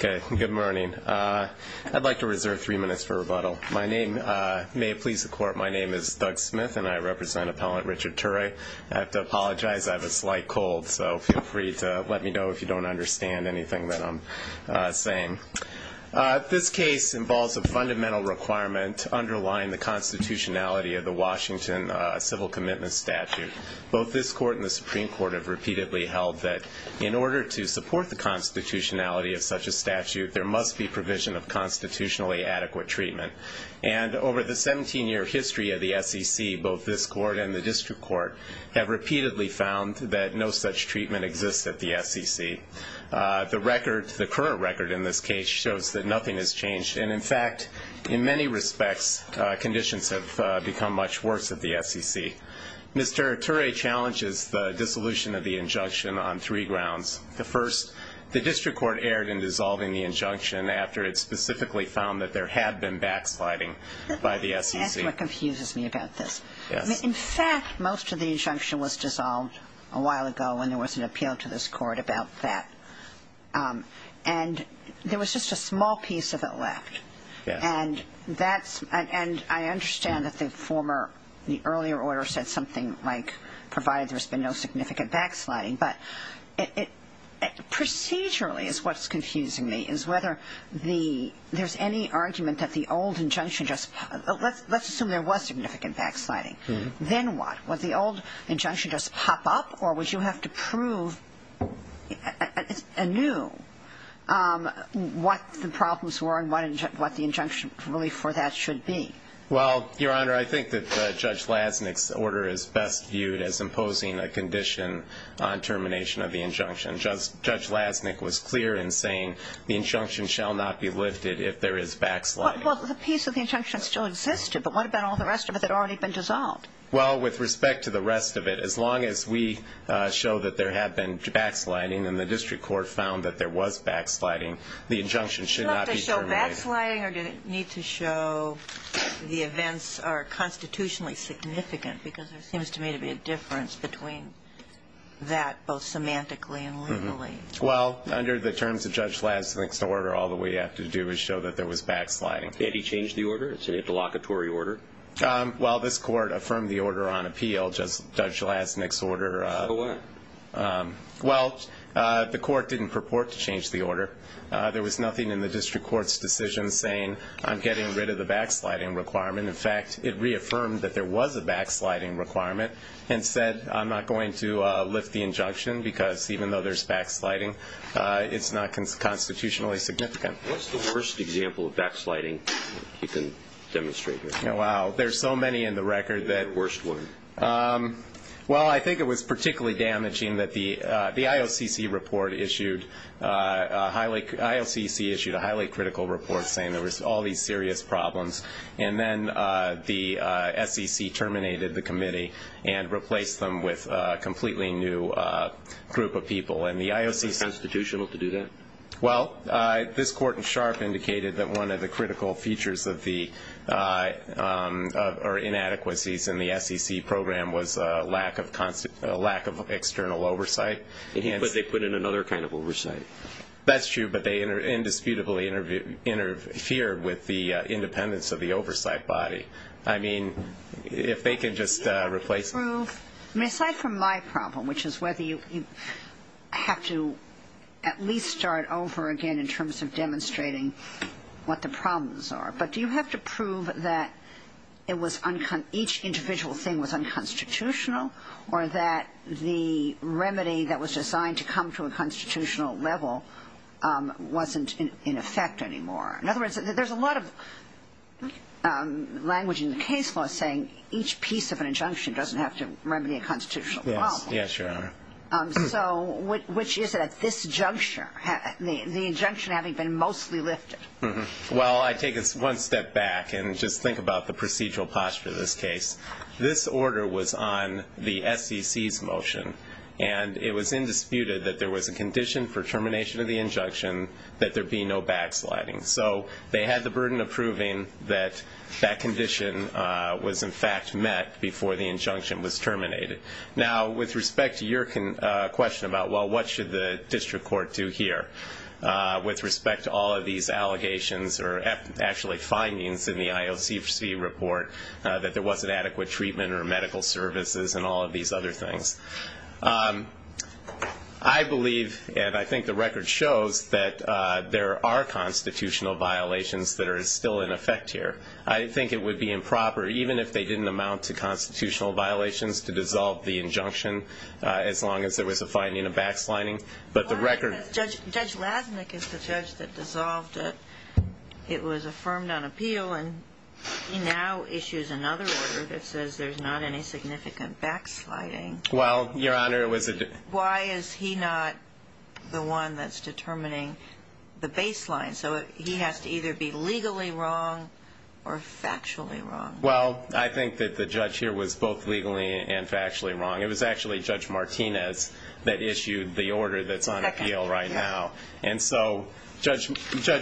Good morning. I'd like to reserve three minutes for rebuttal. May it please the Court, my name is Doug Smith and I represent Appellant Richard Turay. I have to apologize, I have a slight cold, so feel free to let me know if you don't understand anything that I'm saying. This case involves a fundamental requirement underlying the constitutionality of the Washington Civil Commitment Statute. Both this Court and the Supreme Court have repeatedly held that in order to support the constitutionality of such a statute, there must be provision of constitutionally adequate treatment. And over the 17-year history of the SEC, both this Court and the District Court have repeatedly found that no such treatment exists at the SEC. The current record in this case shows that nothing has changed, and in fact, in many respects, conditions have become much worse at the SEC. Mr. Turay challenges the dissolution of the injunction on three grounds. The first, the District Court erred in dissolving the injunction after it specifically found that there had been backsliding by the SEC. That's what confuses me about this. In fact, most of the injunction was dissolved a while ago when there was an appeal to this Court about that. And there was just a small piece of it left. And that's – and I understand that the former – the earlier order said something like provided there's been no significant backsliding. But procedurally is what's confusing me, is whether the – there's any argument that the old injunction just – let's assume there was significant backsliding. Then what? Would the old injunction just pop up, or would you have to prove anew what the problems were and what the injunction really for that should be? Well, Your Honor, I think that Judge Lasnik's order is best viewed as imposing a condition on termination of the injunction. Judge Lasnik was clear in saying the injunction shall not be lifted if there is backsliding. Well, the piece of the injunction still existed, but what about all the rest of it that had already been dissolved? Well, with respect to the rest of it, as long as we show that there had been backsliding and the district court found that there was backsliding, the injunction should not be terminated. Did it need to show backsliding, or did it need to show the events are constitutionally significant? Because there seems to me to be a difference between that both semantically and legally. Well, under the terms of Judge Lasnik's order, all that we have to do is show that there was backsliding. Did he change the order? Is it a delocatory order? Well, this court affirmed the order on appeal, Judge Lasnik's order. So what? Well, the court didn't purport to change the order. There was nothing in the district court's decision saying, I'm getting rid of the backsliding requirement. In fact, it reaffirmed that there was a backsliding requirement and said, I'm not going to lift the injunction because even though there's backsliding, it's not constitutionally significant. What's the worst example of backsliding you can demonstrate here? Wow, there's so many in the record. Worst one. Well, I think it was particularly damaging that the IOCC issued a highly critical report saying there was all these serious problems, and then the SEC terminated the committee and replaced them with a completely new group of people. Is it constitutional to do that? Well, this court in Sharpe indicated that one of the critical features of the or inadequacies in the SEC program was a lack of external oversight. But they put in another kind of oversight. That's true, but they indisputably interfered with the independence of the oversight body. I mean, if they can just replace it. Aside from my problem, which is whether you have to at least start over again in terms of demonstrating what the problems are, but do you have to prove that it was each individual thing was unconstitutional or that the remedy that was designed to come to a constitutional level wasn't in effect anymore? In other words, there's a lot of language in the case law saying each piece of an injunction doesn't have to remedy a constitutional problem. Yes, Your Honor. So which is it at this juncture, the injunction having been mostly lifted? Well, I take it one step back and just think about the procedural posture of this case. This order was on the SEC's motion, and it was indisputed that there was a condition for termination of the injunction that there be no backsliding. So they had the burden of proving that that condition was in fact met before the injunction was terminated. Now, with respect to your question about, well, what should the district court do here, with respect to all of these allegations or actually findings in the IOCC report that there wasn't adequate treatment or medical services and all of these other things, I believe, and I think the record shows, that there are constitutional violations that are still in effect here. I think it would be improper, even if they didn't amount to constitutional violations, to dissolve the injunction as long as there was a finding of backsliding. But the record- Judge Lasnik is the judge that dissolved it. It was affirmed on appeal, and he now issues another order that says there's not any significant backsliding. Well, Your Honor, it was- Why is he not the one that's determining the baseline? So he has to either be legally wrong or factually wrong. Well, I think that the judge here was both legally and factually wrong. It was actually Judge Martinez that issued the order that's on appeal right now. And so Judge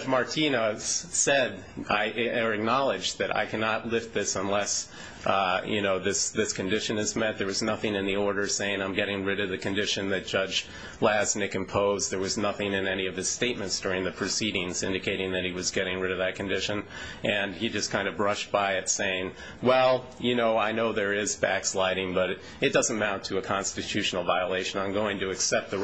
Martinez said or acknowledged that I cannot lift this unless this condition is met. There was nothing in the order saying I'm getting rid of the condition that Judge Lasnik imposed. There was nothing in any of his statements during the proceedings indicating that he was getting rid of that condition. And he just kind of brushed by it saying, well, I know there is backsliding, but it doesn't amount to a constitutional violation. I'm going to accept the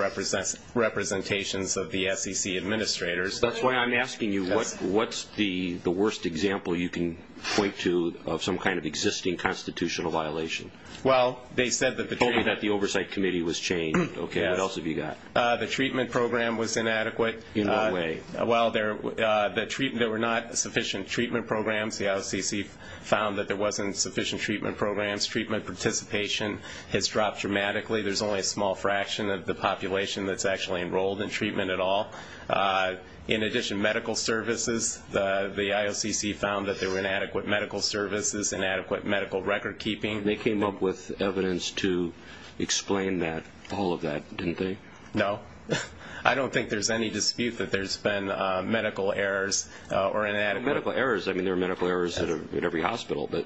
representations of the SEC administrators. That's why I'm asking you, what's the worst example you can point to of some kind of existing constitutional violation? Well, they said that the- Told me that the oversight committee was chained. Okay, what else have you got? The treatment program was inadequate. In what way? Well, there were not sufficient treatment programs. The SEC found that there wasn't sufficient treatment programs. Treatment participation has dropped dramatically. There's only a small fraction of the population that's actually enrolled in treatment at all. In addition, medical services, the IOCC found that there were inadequate medical services, inadequate medical record keeping. They came up with evidence to explain that, all of that, didn't they? No. I don't think there's any dispute that there's been medical errors or inadequate- Well, medical errors, I mean, there were medical errors at every hospital. But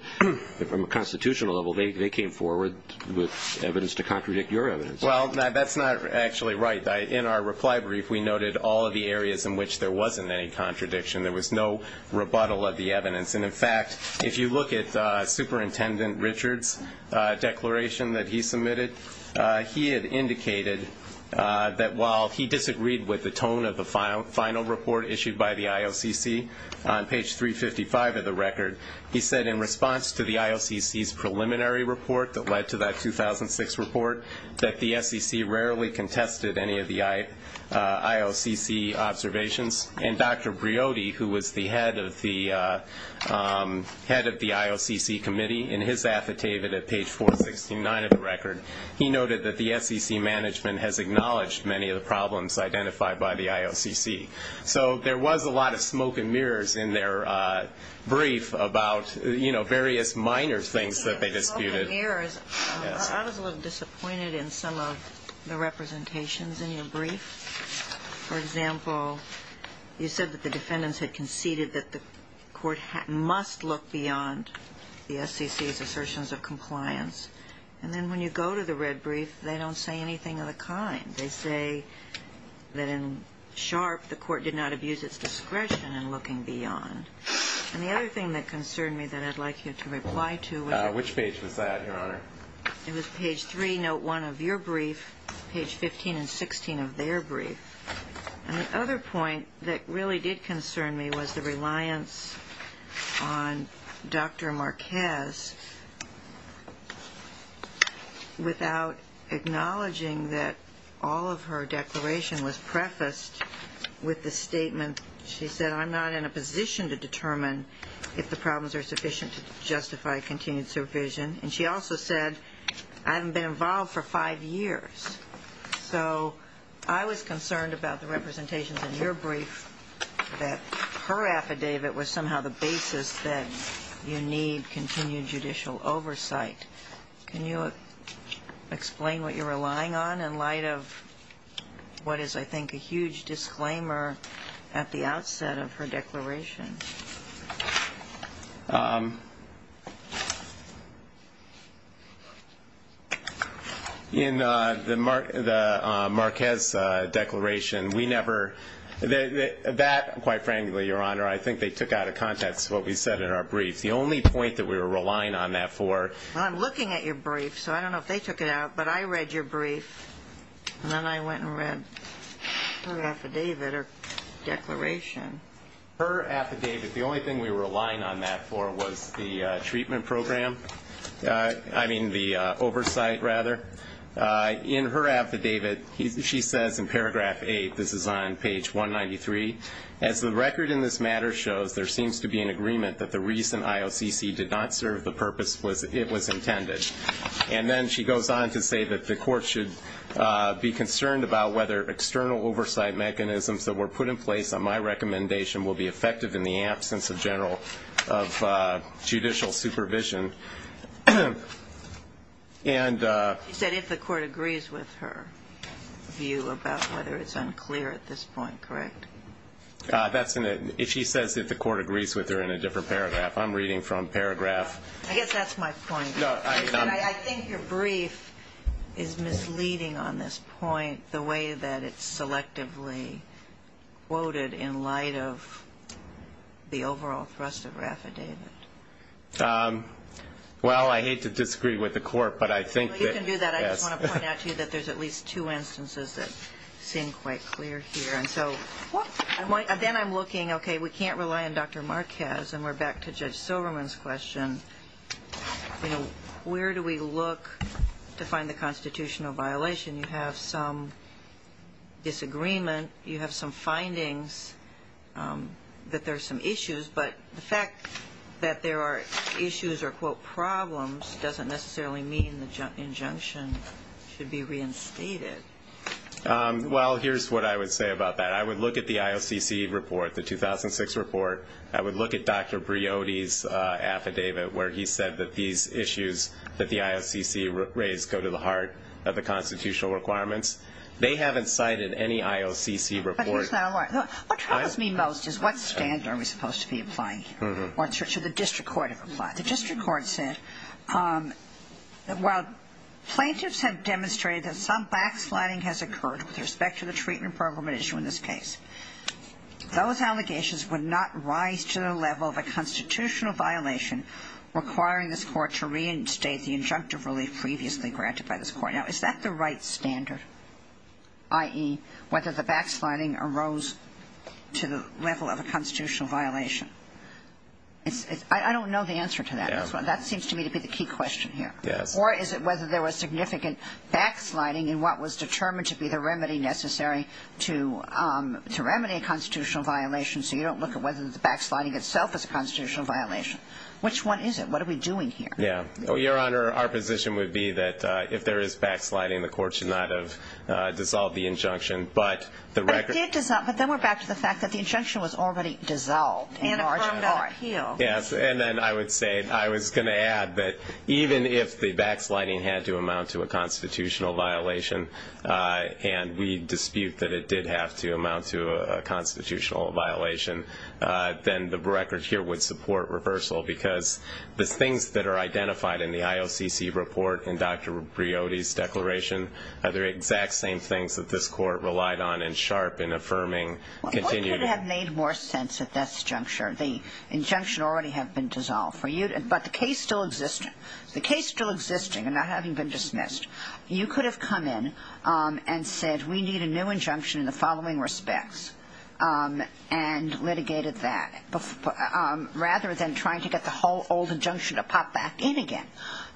from a constitutional level, they came forward with evidence to contradict your evidence. Well, that's not actually right. In our reply brief, we noted all of the areas in which there wasn't any contradiction. There was no rebuttal of the evidence. And, in fact, if you look at Superintendent Richard's declaration that he submitted, he had indicated that while he disagreed with the tone of the final report issued by the IOCC on page 355 of the record, he said in response to the IOCC's preliminary report that led to that 2006 report, that the SEC rarely contested any of the IOCC observations. And Dr. Briody, who was the head of the IOCC committee, in his affidavit at page 469 of the record, he noted that the SEC management has acknowledged many of the problems identified by the IOCC. So there was a lot of smoke and mirrors in their brief about, you know, various minor things that they disputed. I was a little disappointed in some of the representations in your brief. For example, you said that the defendants had conceded that the court must look beyond the SEC's assertions of compliance. And then when you go to the red brief, they don't say anything of the kind. They say that in Sharpe, the court did not abuse its discretion in looking beyond. And the other thing that concerned me that I'd like you to reply to was... Which page was that, Your Honor? It was page 3, note 1 of your brief, page 15 and 16 of their brief. And the other point that really did concern me was the reliance on Dr. Marquez. Without acknowledging that all of her declaration was prefaced with the statement, she said, I'm not in a position to determine if the problems are sufficient to justify continued supervision. And she also said, I haven't been involved for five years. So I was concerned about the representations in your brief that her affidavit was somehow the basis that you need continued judicial oversight. Can you explain what you're relying on in light of what is, I think, a huge disclaimer at the outset of her declaration? In the Marquez declaration, we never... That, quite frankly, Your Honor, I think they took out of context what we said in our brief. The only point that we were relying on that for... Well, I'm looking at your brief, so I don't know if they took it out. But I read your brief, and then I went and read her affidavit or declaration. Her affidavit, the only thing we were relying on that for was the treatment program. I mean, the oversight, rather. In her affidavit, she says in paragraph 8, this is on page 193, As the record in this matter shows, there seems to be an agreement that the reason IOCC did not serve the purpose it was intended. And then she goes on to say that the court should be concerned about whether external oversight mechanisms that were put in place on my recommendation will be effective in the absence of general judicial supervision. And... She said if the court agrees with her view about whether it's unclear at this point, correct? That's in it. If she says if the court agrees with her in a different paragraph. I'm reading from paragraph... I guess that's my point. I think your brief is misleading on this point, the way that it's selectively quoted in light of the overall thrust of her affidavit. Well, I hate to disagree with the court, but I think that... You can do that. I just want to point out to you that there's at least two instances that seem quite clear here. Then I'm looking, okay, we can't rely on Dr. Marquez. And we're back to Judge Silverman's question. Where do we look to find the constitutional violation? You have some disagreement. You have some findings that there are some issues. But the fact that there are issues or, quote, problems doesn't necessarily mean the injunction should be reinstated. Well, here's what I would say about that. I would look at the IOCC report, the 2006 report. I would look at Dr. Briody's affidavit where he said that these issues that the IOCC raised go to the heart of the constitutional requirements. They haven't cited any IOCC report. What troubles me most is what standard are we supposed to be applying here? What should the district court have applied? The district court said that while plaintiffs have demonstrated that some backsliding has occurred with respect to the treatment program at issue in this case, those allegations would not rise to the level of a constitutional violation requiring this court to reinstate the injunctive relief previously granted by this court. Now, is that the right standard, i.e., whether the backsliding arose to the level of a constitutional violation? I don't know the answer to that. That seems to me to be the key question here. Or is it whether there was significant backsliding in what was determined to be the remedy necessary to remedy a constitutional violation, so you don't look at whether the backsliding itself is a constitutional violation? Which one is it? What are we doing here? Your Honor, our position would be that if there is backsliding, the court should not have dissolved the injunction. But then we're back to the fact that the injunction was already dissolved in large part. Yes, and then I would say I was going to add that even if the backsliding had to amount to a constitutional violation and we dispute that it did have to amount to a constitutional violation, then the record here would support reversal because the things that are identified in the IOCC report and Dr. Briody's declaration are the exact same things that this Court relied on and Sharpe in affirming continued. If we could have made more sense at this juncture, the injunction already had been dissolved, but the case still existing and not having been dismissed, you could have come in and said we need a new injunction in the following respects and litigated that rather than trying to get the whole old injunction to pop back in again.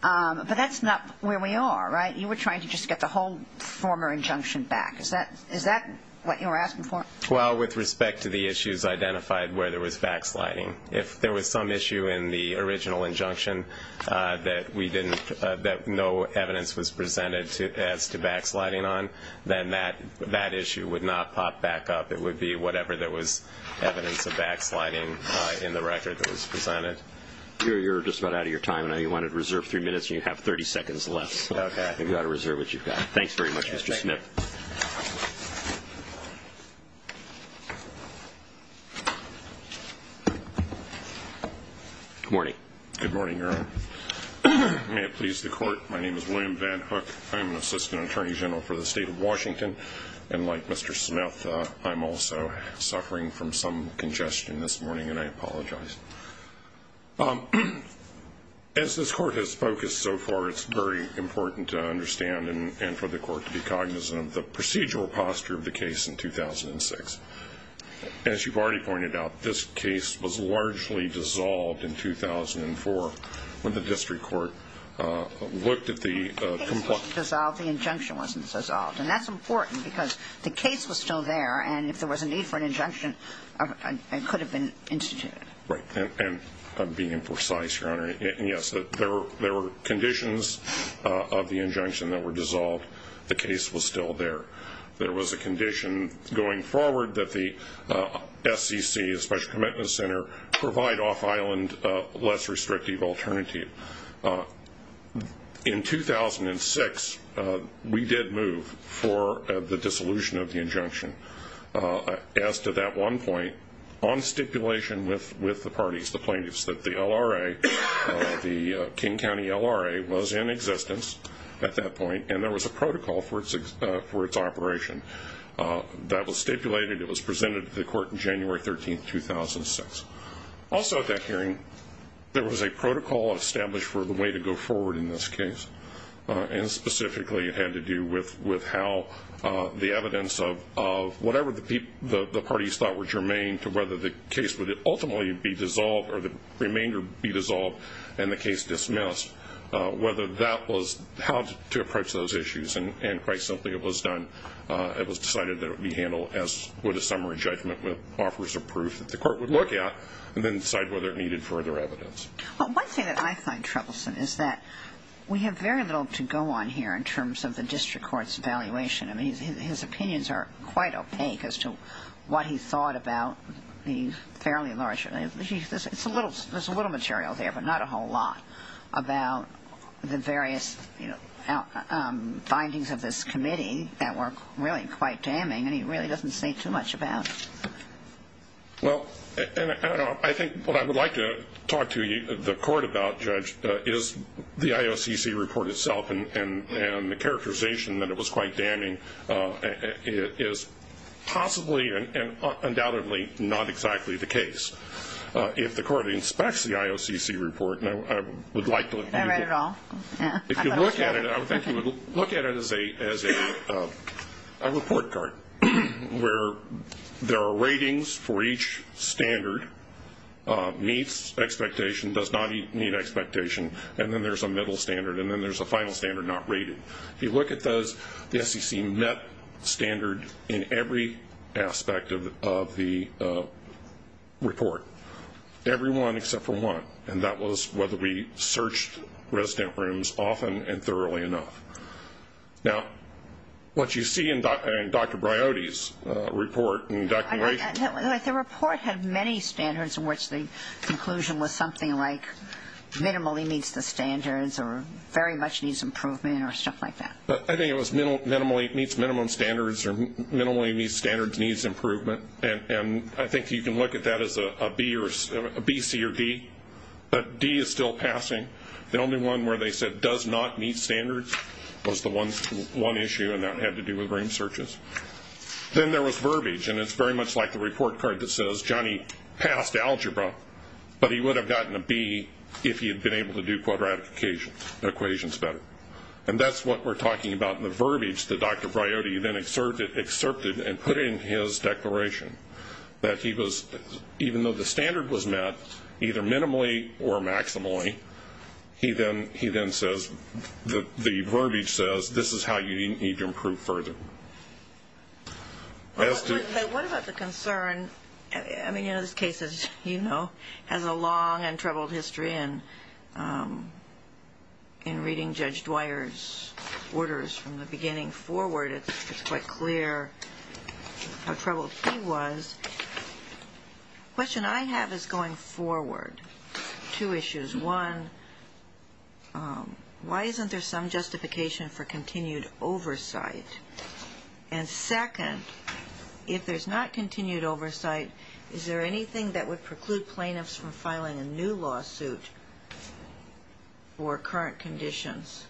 But that's not where we are, right? You were trying to just get the whole former injunction back. Is that what you were asking for? Well, with respect to the issues identified where there was backsliding, if there was some issue in the original injunction that no evidence was presented as to backsliding on, then that issue would not pop back up. It would be whatever there was evidence of backsliding in the record that was presented. You're just about out of your time. I know you wanted to reserve three minutes, and you have 30 seconds left. You've got to reserve what you've got. Thanks very much, Mr. Smith. Good morning. Good morning, Your Honor. May it please the Court, my name is William Van Hook. I'm an Assistant Attorney General for the State of Washington, and like Mr. Smith, I'm also suffering from some congestion this morning, and I apologize. As this Court has focused so far, it's very important to understand and for the Court to be cognizant of the procedural posture of the case in 2006. As you've already pointed out, this case was largely dissolved in 2004 when the district court looked at the complaint. It wasn't dissolved, the injunction wasn't dissolved, and that's important because the case was still there, and if there was a need for an injunction, it could have been instituted. Right, and being precise, Your Honor, yes, there were conditions of the injunction that were dissolved. The case was still there. There was a condition going forward that the SEC, the Special Commitment Center, provide off-island, less restrictive alternative. In 2006, we did move for the dissolution of the injunction. As to that one point, on stipulation with the parties, the plaintiffs, that the LRA, the King County LRA, was in existence at that point, and there was a protocol for its operation. That was stipulated, it was presented to the Court on January 13, 2006. Also at that hearing, there was a protocol established for the way to go forward in this case, and specifically it had to do with how the evidence of whatever the parties thought were germane to whether the case would ultimately be dissolved or the remainder be dissolved and the case dismissed, whether that was how to approach those issues, and quite simply it was done. It was decided that it would be handled as would a summary judgment that offers a proof that the Court would look at and then decide whether it needed further evidence. One thing that I find troublesome is that we have very little to go on here in terms of the district court's evaluation. I mean, his opinions are quite opaque as to what he thought about the fairly large, there's a little material there but not a whole lot, about the various findings of this committee that were really quite damning, and he really doesn't say too much about. Well, I think what I would like to talk to the Court about, Judge, is the IOCC report itself and the characterization that it was quite damning is possibly and undoubtedly not exactly the case. If the Court inspects the IOCC report, I would like to look at it. I read it all. There are ratings for each standard, meets expectation, does not meet expectation, and then there's a middle standard, and then there's a final standard not rated. If you look at those, the SEC met standard in every aspect of the report, every one except for one, and that was whether we searched resident rooms often and thoroughly enough. Now, what you see in Dr. Briody's report and declaration. The report had many standards in which the conclusion was something like minimally meets the standards or very much needs improvement or stuff like that. I think it was minimally meets minimum standards or minimally meets standards needs improvement, and I think you can look at that as a B, C, or D, but D is still passing. The only one where they said does not meet standards was the one issue, and that had to do with room searches. Then there was verbiage, and it's very much like the report card that says, Johnny passed algebra, but he would have gotten a B if he had been able to do quadratic equations better, and that's what we're talking about in the verbiage that Dr. Briody then excerpted and put in his declaration, that he was, even though the standard was met, either minimally or maximally, he then says, the verbiage says this is how you need to improve further. What about the concern? I mean, this case has a long and troubled history in reading Judge Dwyer's orders from the beginning forward. It's quite clear how troubled he was. The question I have is going forward, two issues. One, why isn't there some justification for continued oversight? And second, if there's not continued oversight, is there anything that would preclude plaintiffs from filing a new lawsuit for current conditions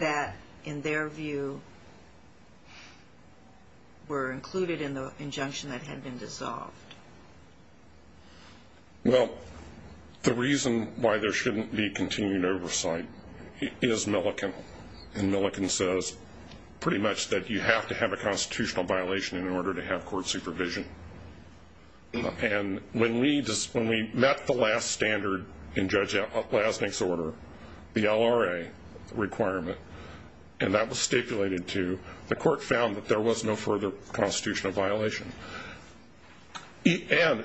that, in their view, were included in the injunction that had been dissolved? Well, the reason why there shouldn't be continued oversight is Milliken, and Milliken says pretty much that you have to have a constitutional violation in order to have court supervision. And when we met the last standard in Judge Lasnik's order, the LRA requirement, and that was stipulated to, the court found that there was no further constitutional violation. And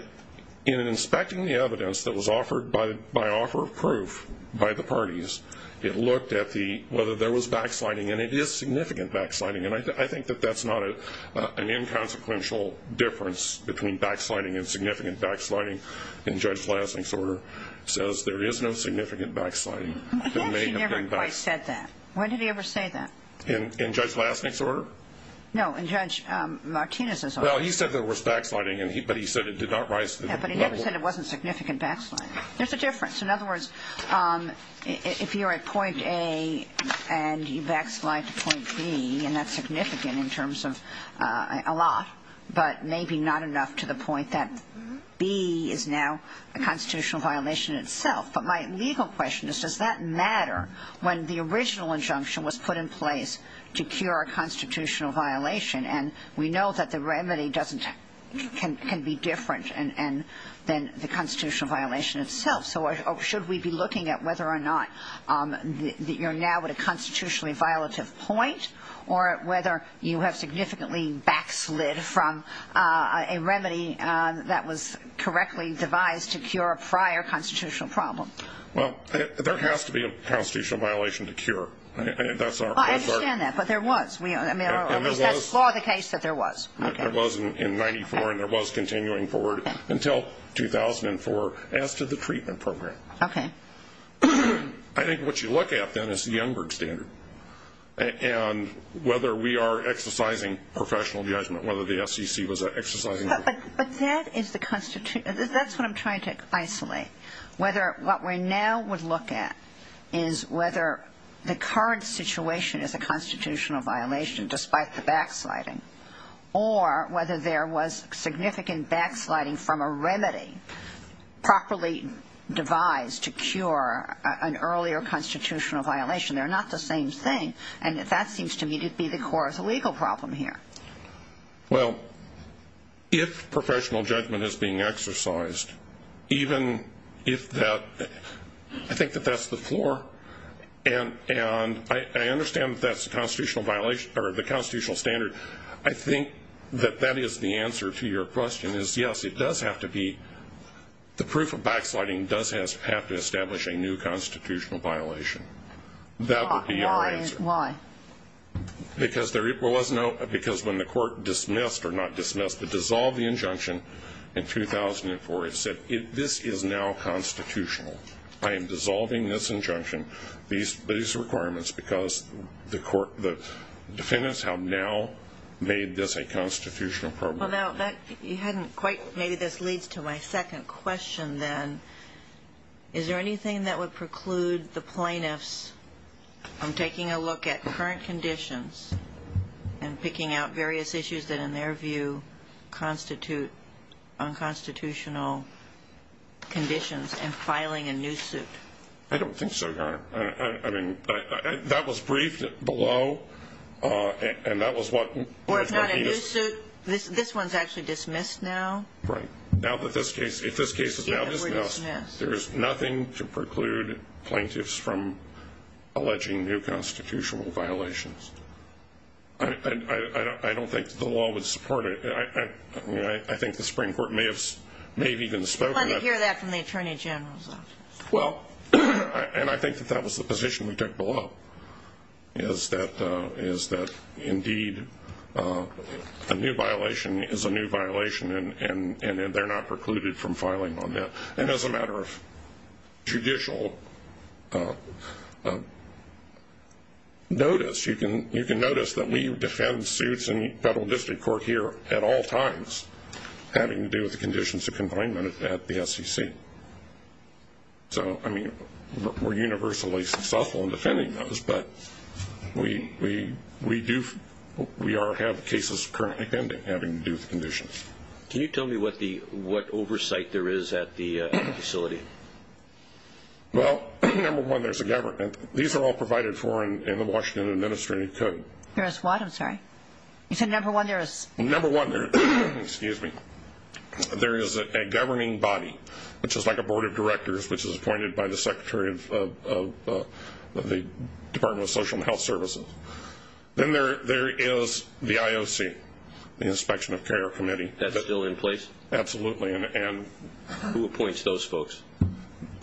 in inspecting the evidence that was offered by offer of proof by the parties, it looked at whether there was backsliding, and it is significant backsliding, and I think that that's not an inconsequential difference between backsliding and significant backsliding in Judge Lasnik's order. It says there is no significant backsliding. He never quite said that. When did he ever say that? In Judge Lasnik's order? No, in Judge Martinez's order. Well, he said there was backsliding, but he said it did not rise to the level. Yeah, but he never said it wasn't significant backsliding. There's a difference. In other words, if you're at point A and you backslide to point B, and that's significant in terms of a lot, but maybe not enough to the point that B is now a constitutional violation itself. But my legal question is, does that matter when the original injunction was put in place to cure a constitutional violation? And we know that the remedy can be different than the constitutional violation itself. So should we be looking at whether or not you're now at a constitutionally violative point or whether you have significantly backslid from a remedy that was correctly devised to cure a prior constitutional problem? Well, there has to be a constitutional violation to cure. I understand that, but there was. At least that's for the case that there was. There was in 94, and there was continuing forward until 2004. As to the treatment program. Okay. I think what you look at, then, is the Youngberg standard and whether we are exercising professional judgment, whether the SEC was exercising it. But that is the constitution. That's what I'm trying to isolate. Whether what we now would look at is whether the current situation is a constitutional violation despite the backsliding or whether there was significant backsliding from a remedy properly devised to cure an earlier constitutional violation. They're not the same thing. And that seems to me to be the core of the legal problem here. Well, if professional judgment is being exercised, even if that ‑‑ I think that that's the floor. And I understand that that's the constitutional violation or the constitutional standard. I think that that is the answer to your question is, yes, it does have to be. The proof of backsliding does have to establish a new constitutional violation. That would be our answer. Why? Because when the court dismissed or not dismissed, but dissolved the injunction in 2004, it said this is now constitutional. I am dissolving this injunction, these requirements, because the defendants have now made this a constitutional problem. Well, now, you hadn't quite ‑‑ maybe this leads to my second question then. Is there anything that would preclude the plaintiffs from taking a look at current conditions and picking out various issues that in their view constitute unconstitutional conditions and filing a new suit? I don't think so, Your Honor. I mean, that was briefed below, and that was what ‑‑ Well, it's not a new suit. This one is actually dismissed now. Right. Now that this case ‑‑ if this case is now dismissed, there is nothing to preclude plaintiffs from alleging new constitutional violations. I don't think the law would support it. I think the Supreme Court may have even spoken to that. I'd like to hear that from the Attorney General's office. Well, and I think that that was the position we took below, is that indeed a new violation is a new violation, and they're not precluded from filing on that. And as a matter of judicial notice, you can notice that we defend suits in federal district court here at all times having to do with the conditions of confinement at the SEC. So, I mean, we're universally successful in defending those, but we do ‑‑ we have cases currently pending having to do with the conditions. Can you tell me what oversight there is at the facility? Well, number one, there's a government. These are all provided for in the Washington Administrative Code. There is what? I'm sorry. You said number one, there is ‑‑ Number one, there is a governing body, which is like a board of directors, which is appointed by the Secretary of the Department of Social and Health Services. Then there is the IOC, the Inspection of Care Committee. That's still in place? Absolutely. And who appoints those folks?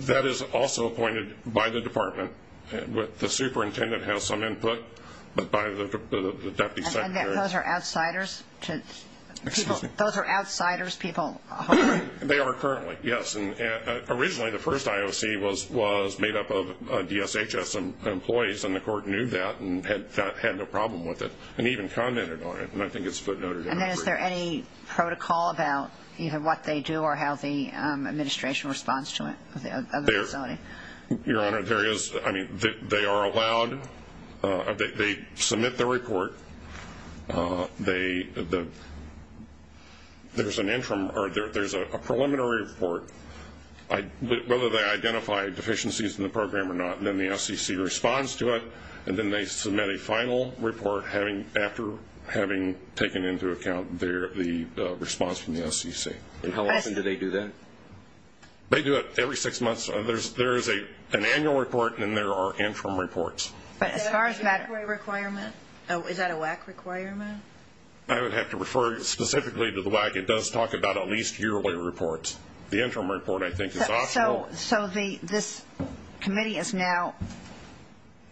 That is also appointed by the department. The superintendent has some input, but by the deputy secretary. And those are outsiders to people? Those are outsiders to people? They are currently, yes. Originally, the first IOC was made up of DSHS employees, and the court knew that and had no problem with it and even commented on it. And I think it's footnoted in the brief. And then is there any protocol about what they do or how the administration responds to it at the facility? Your Honor, there is ‑‑ I mean, they are allowed ‑‑ they submit the report. There's an interim ‑‑ or there's a preliminary report, whether they identify deficiencies in the program or not, and then the SEC responds to it, and then they submit a final report after having taken into account the response from the SEC. And how often do they do that? They do it every six months. There is an annual report, and then there are interim reports. But as far as matter ‑‑ Is that a WAC requirement? I would have to refer specifically to the WAC. It does talk about at least yearly reports. The interim report, I think, is optional. So this committee now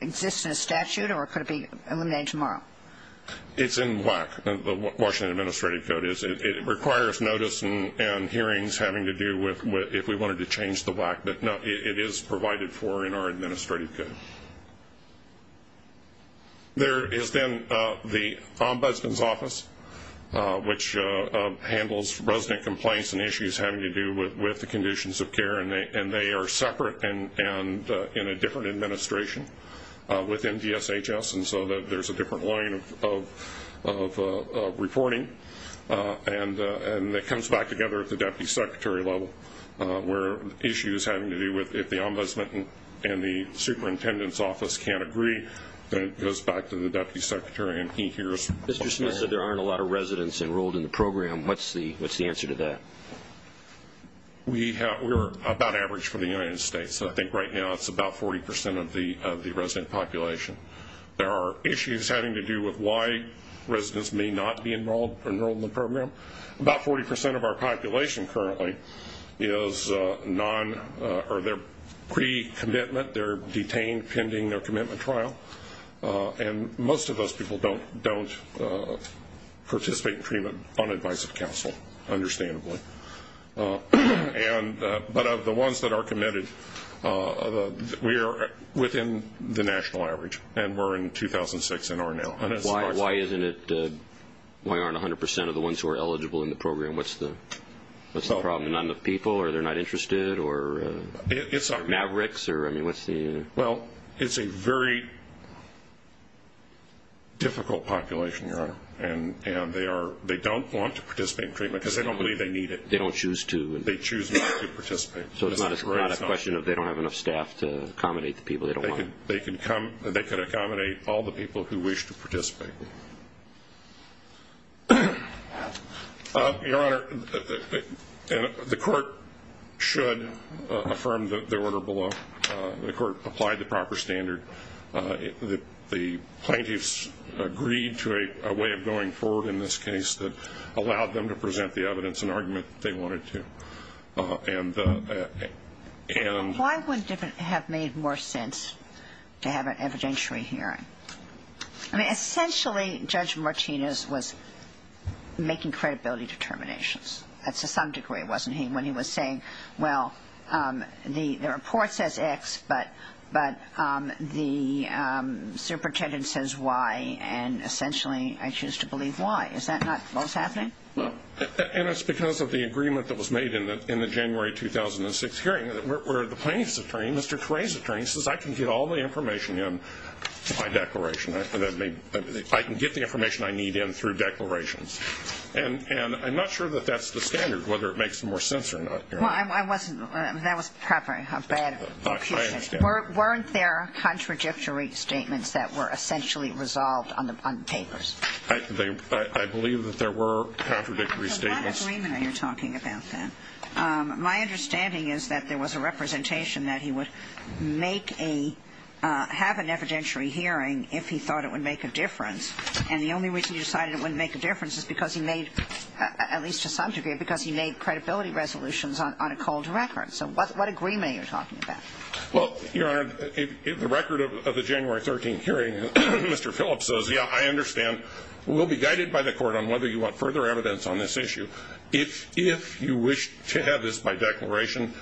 exists in a statute, or could it be eliminated tomorrow? It's in WAC, the Washington Administrative Code. It requires notice and hearings having to do with if we wanted to change the WAC. But no, it is provided for in our administrative code. There is then the Ombudsman's Office, which handles resident complaints and issues having to do with the conditions of care and they are separate and in a different administration within DSHS, and so there's a different line of reporting. And it comes back together at the Deputy Secretary level, where issues having to do with if the Ombudsman and the Superintendent's Office can't agree, then it goes back to the Deputy Secretary and he hears. Mr. Smith said there aren't a lot of residents enrolled in the program. What's the answer to that? We're about average for the United States. I think right now it's about 40% of the resident population. There are issues having to do with why residents may not be enrolled in the program. About 40% of our population currently is non- or they're pre-commitment, they're detained pending their commitment trial, and most of those people don't participate in treatment on advice of counsel, understandably. But of the ones that are committed, we are within the national average and we're in 2006 and are now. Why aren't 100% of the ones who are eligible in the program? What's the problem? Not enough people or they're not interested or mavericks? Well, it's a very difficult population, Your Honor, and they don't want to participate in treatment because they don't believe they need it. They don't choose to? They choose not to participate. So it's not a question of they don't have enough staff to accommodate the people they don't want? They can accommodate all the people who wish to participate. Your Honor, the court should affirm the order below. The court applied the proper standard. The plaintiffs agreed to a way of going forward in this case that allowed them to present the evidence and argument that they wanted to. Why wouldn't it have made more sense to have an evidentiary hearing? Essentially, Judge Martinez was making credibility determinations. To some degree, wasn't he? When he was saying, well, the report says X, but the superintendent says Y, and essentially I choose to believe Y. Is that not what was happening? No. And it's because of the agreement that was made in the January 2006 hearing where the plaintiff's attorney, Mr. Caray's attorney, says I can get all the information in my declaration. I can get the information I need in through declarations. And I'm not sure that that's the standard, whether it makes more sense or not. Well, that was probably a bad accusation. Weren't there contradictory statements that were essentially resolved on papers? I believe that there were contradictory statements. I have a lot of agreement that you're talking about then. My understanding is that there was a representation that he would have an evidentiary hearing if he thought it would make a difference, and the only reason he decided it wouldn't make a difference is because he made, at least to some degree, because he made credibility resolutions on a cold record. So what agreement are you talking about? Well, Your Honor, the record of the January 13 hearing, Mr. Phillips says, yeah, I understand. We'll be guided by the court on whether you want further evidence on this issue. If you wish to have this by declaration,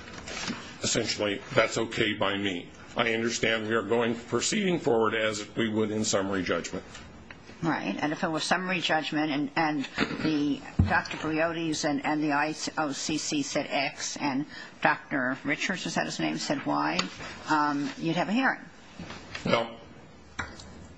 essentially that's okay by me. I understand we are proceeding forward as if we would in summary judgment. Right. And if it was summary judgment and Dr. Briody's and the IOCC said X and Dr. Richards, is that his name, said Y, you'd have a hearing. Well,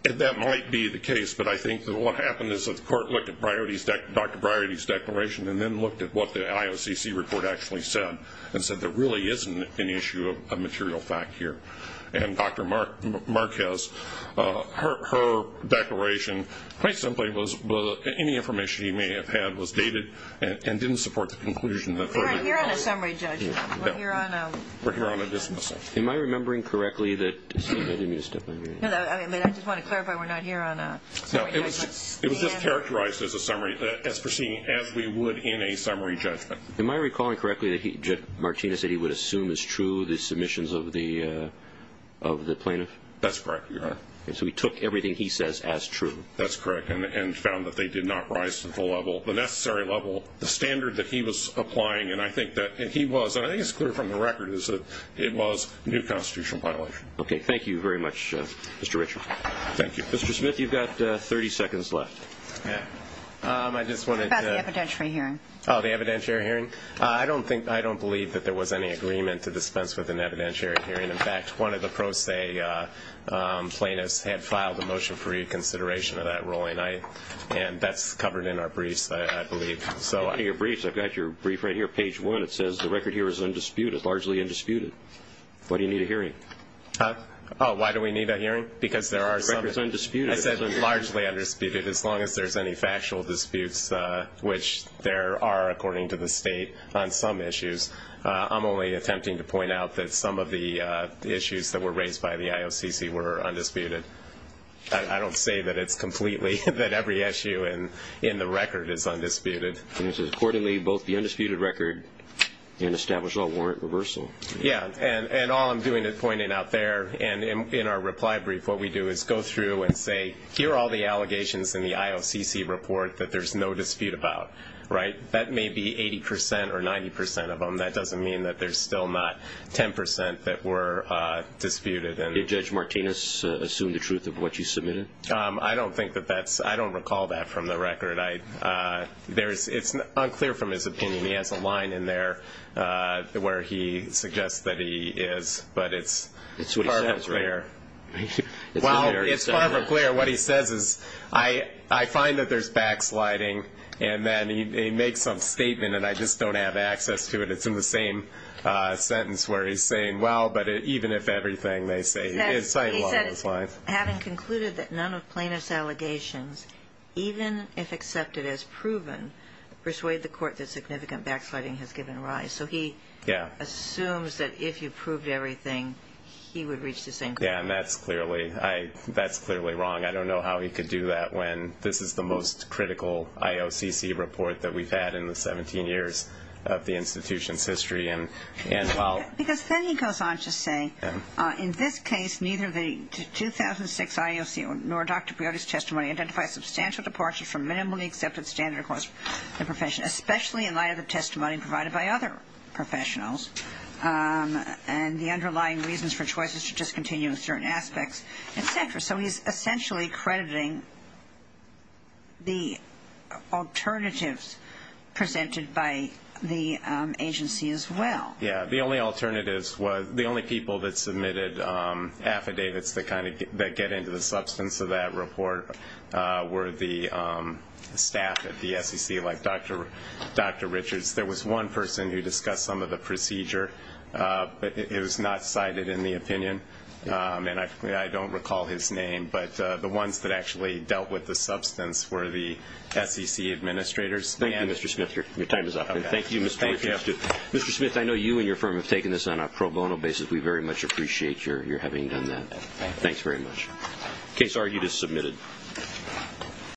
that might be the case, but I think that what happened is that the court looked at Dr. Briody's declaration and then looked at what the IOCC report actually said and said there really isn't an issue of material fact here. And Dr. Marquez, her declaration, quite simply, was any information he may have had was dated and didn't support the conclusion. We're not here on a summary judgment. We're here on a dismissal. Am I remembering correctly that you need me to step over here? I just want to clarify we're not here on a summary judgment. It was just characterized as proceeding as we would in a summary judgment. Am I recalling correctly that Martinez said he would assume it's true, the submissions of the plaintiff? That's correct. So he took everything he says as true. That's correct, and found that they did not rise to the necessary level. The standard that he was applying, and I think he was, and I think it's clear from the record is that it was new constitutional violation. Okay. Thank you very much, Mr. Richard. Thank you. Mr. Smith, you've got 30 seconds left. How about the evidentiary hearing? Oh, the evidentiary hearing? I don't believe that there was any agreement to dispense with an evidentiary hearing. In fact, one of the pro se plaintiffs had filed a motion for reconsideration of that ruling, and that's covered in our briefs, I believe. In your briefs? I've got your brief right here, page one. It says the record here is undisputed, largely undisputed. Why do you need a hearing? Oh, why do we need a hearing? Because there are some. The record is undisputed. I said largely undisputed, as long as there's any factual disputes, which there are, according to the state, on some issues. I'm only attempting to point out that some of the issues that were raised by the IOCC were undisputed. I don't say that it's completely, that every issue in the record is undisputed. It says accordingly, both the undisputed record and established law warrant reversal. Yeah, and all I'm doing is pointing out there, and in our reply brief, what we do is go through and say, here are all the allegations in the IOCC report that there's no dispute about, right? That may be 80% or 90% of them. That doesn't mean that there's still not 10% that were disputed. Did Judge Martinez assume the truth of what you submitted? I don't think that that's ñ I don't recall that from the record. It's unclear from his opinion. He has a line in there where he suggests that he is, but it's far from clear. It's what he says, right? Well, it's far from clear. What he says is, I find that there's backsliding, and then he makes some statement, and I just don't have access to it. It's in the same sentence where he's saying, well, but even if everything, they say, it's right along those lines. He said, having concluded that none of plaintiff's allegations, even if accepted as proven, persuade the court that significant backsliding has given rise. So he assumes that if you proved everything, he would reach the same conclusion. Yeah, and that's clearly wrong. I don't know how he could do that when this is the most critical IOCC report that we've had in the 17 years of the institution's history. Because then he goes on to say, in this case, neither the 2006 IOC nor Dr. Piotrowski's testimony identifies substantial departure from minimally accepted standard across the profession, especially in light of the testimony provided by other professionals and the underlying reasons for choices to discontinue in certain aspects, et cetera. So he's essentially crediting the alternatives presented by the agency as well. Yeah, the only alternatives was the only people that submitted affidavits that kind of get into the substance of that report were the staff at the SEC, like Dr. Richards. There was one person who discussed some of the procedure, but it was not cited in the opinion. And I don't recall his name, but the ones that actually dealt with the substance were the SEC administrators. Thank you, Mr. Smith. Your time is up. Thank you, Mr. Richard. I have to. Mr. Smith, I know you and your firm have taken this on a pro bono basis. We very much appreciate your having done that. Thanks very much. Case argued as submitted.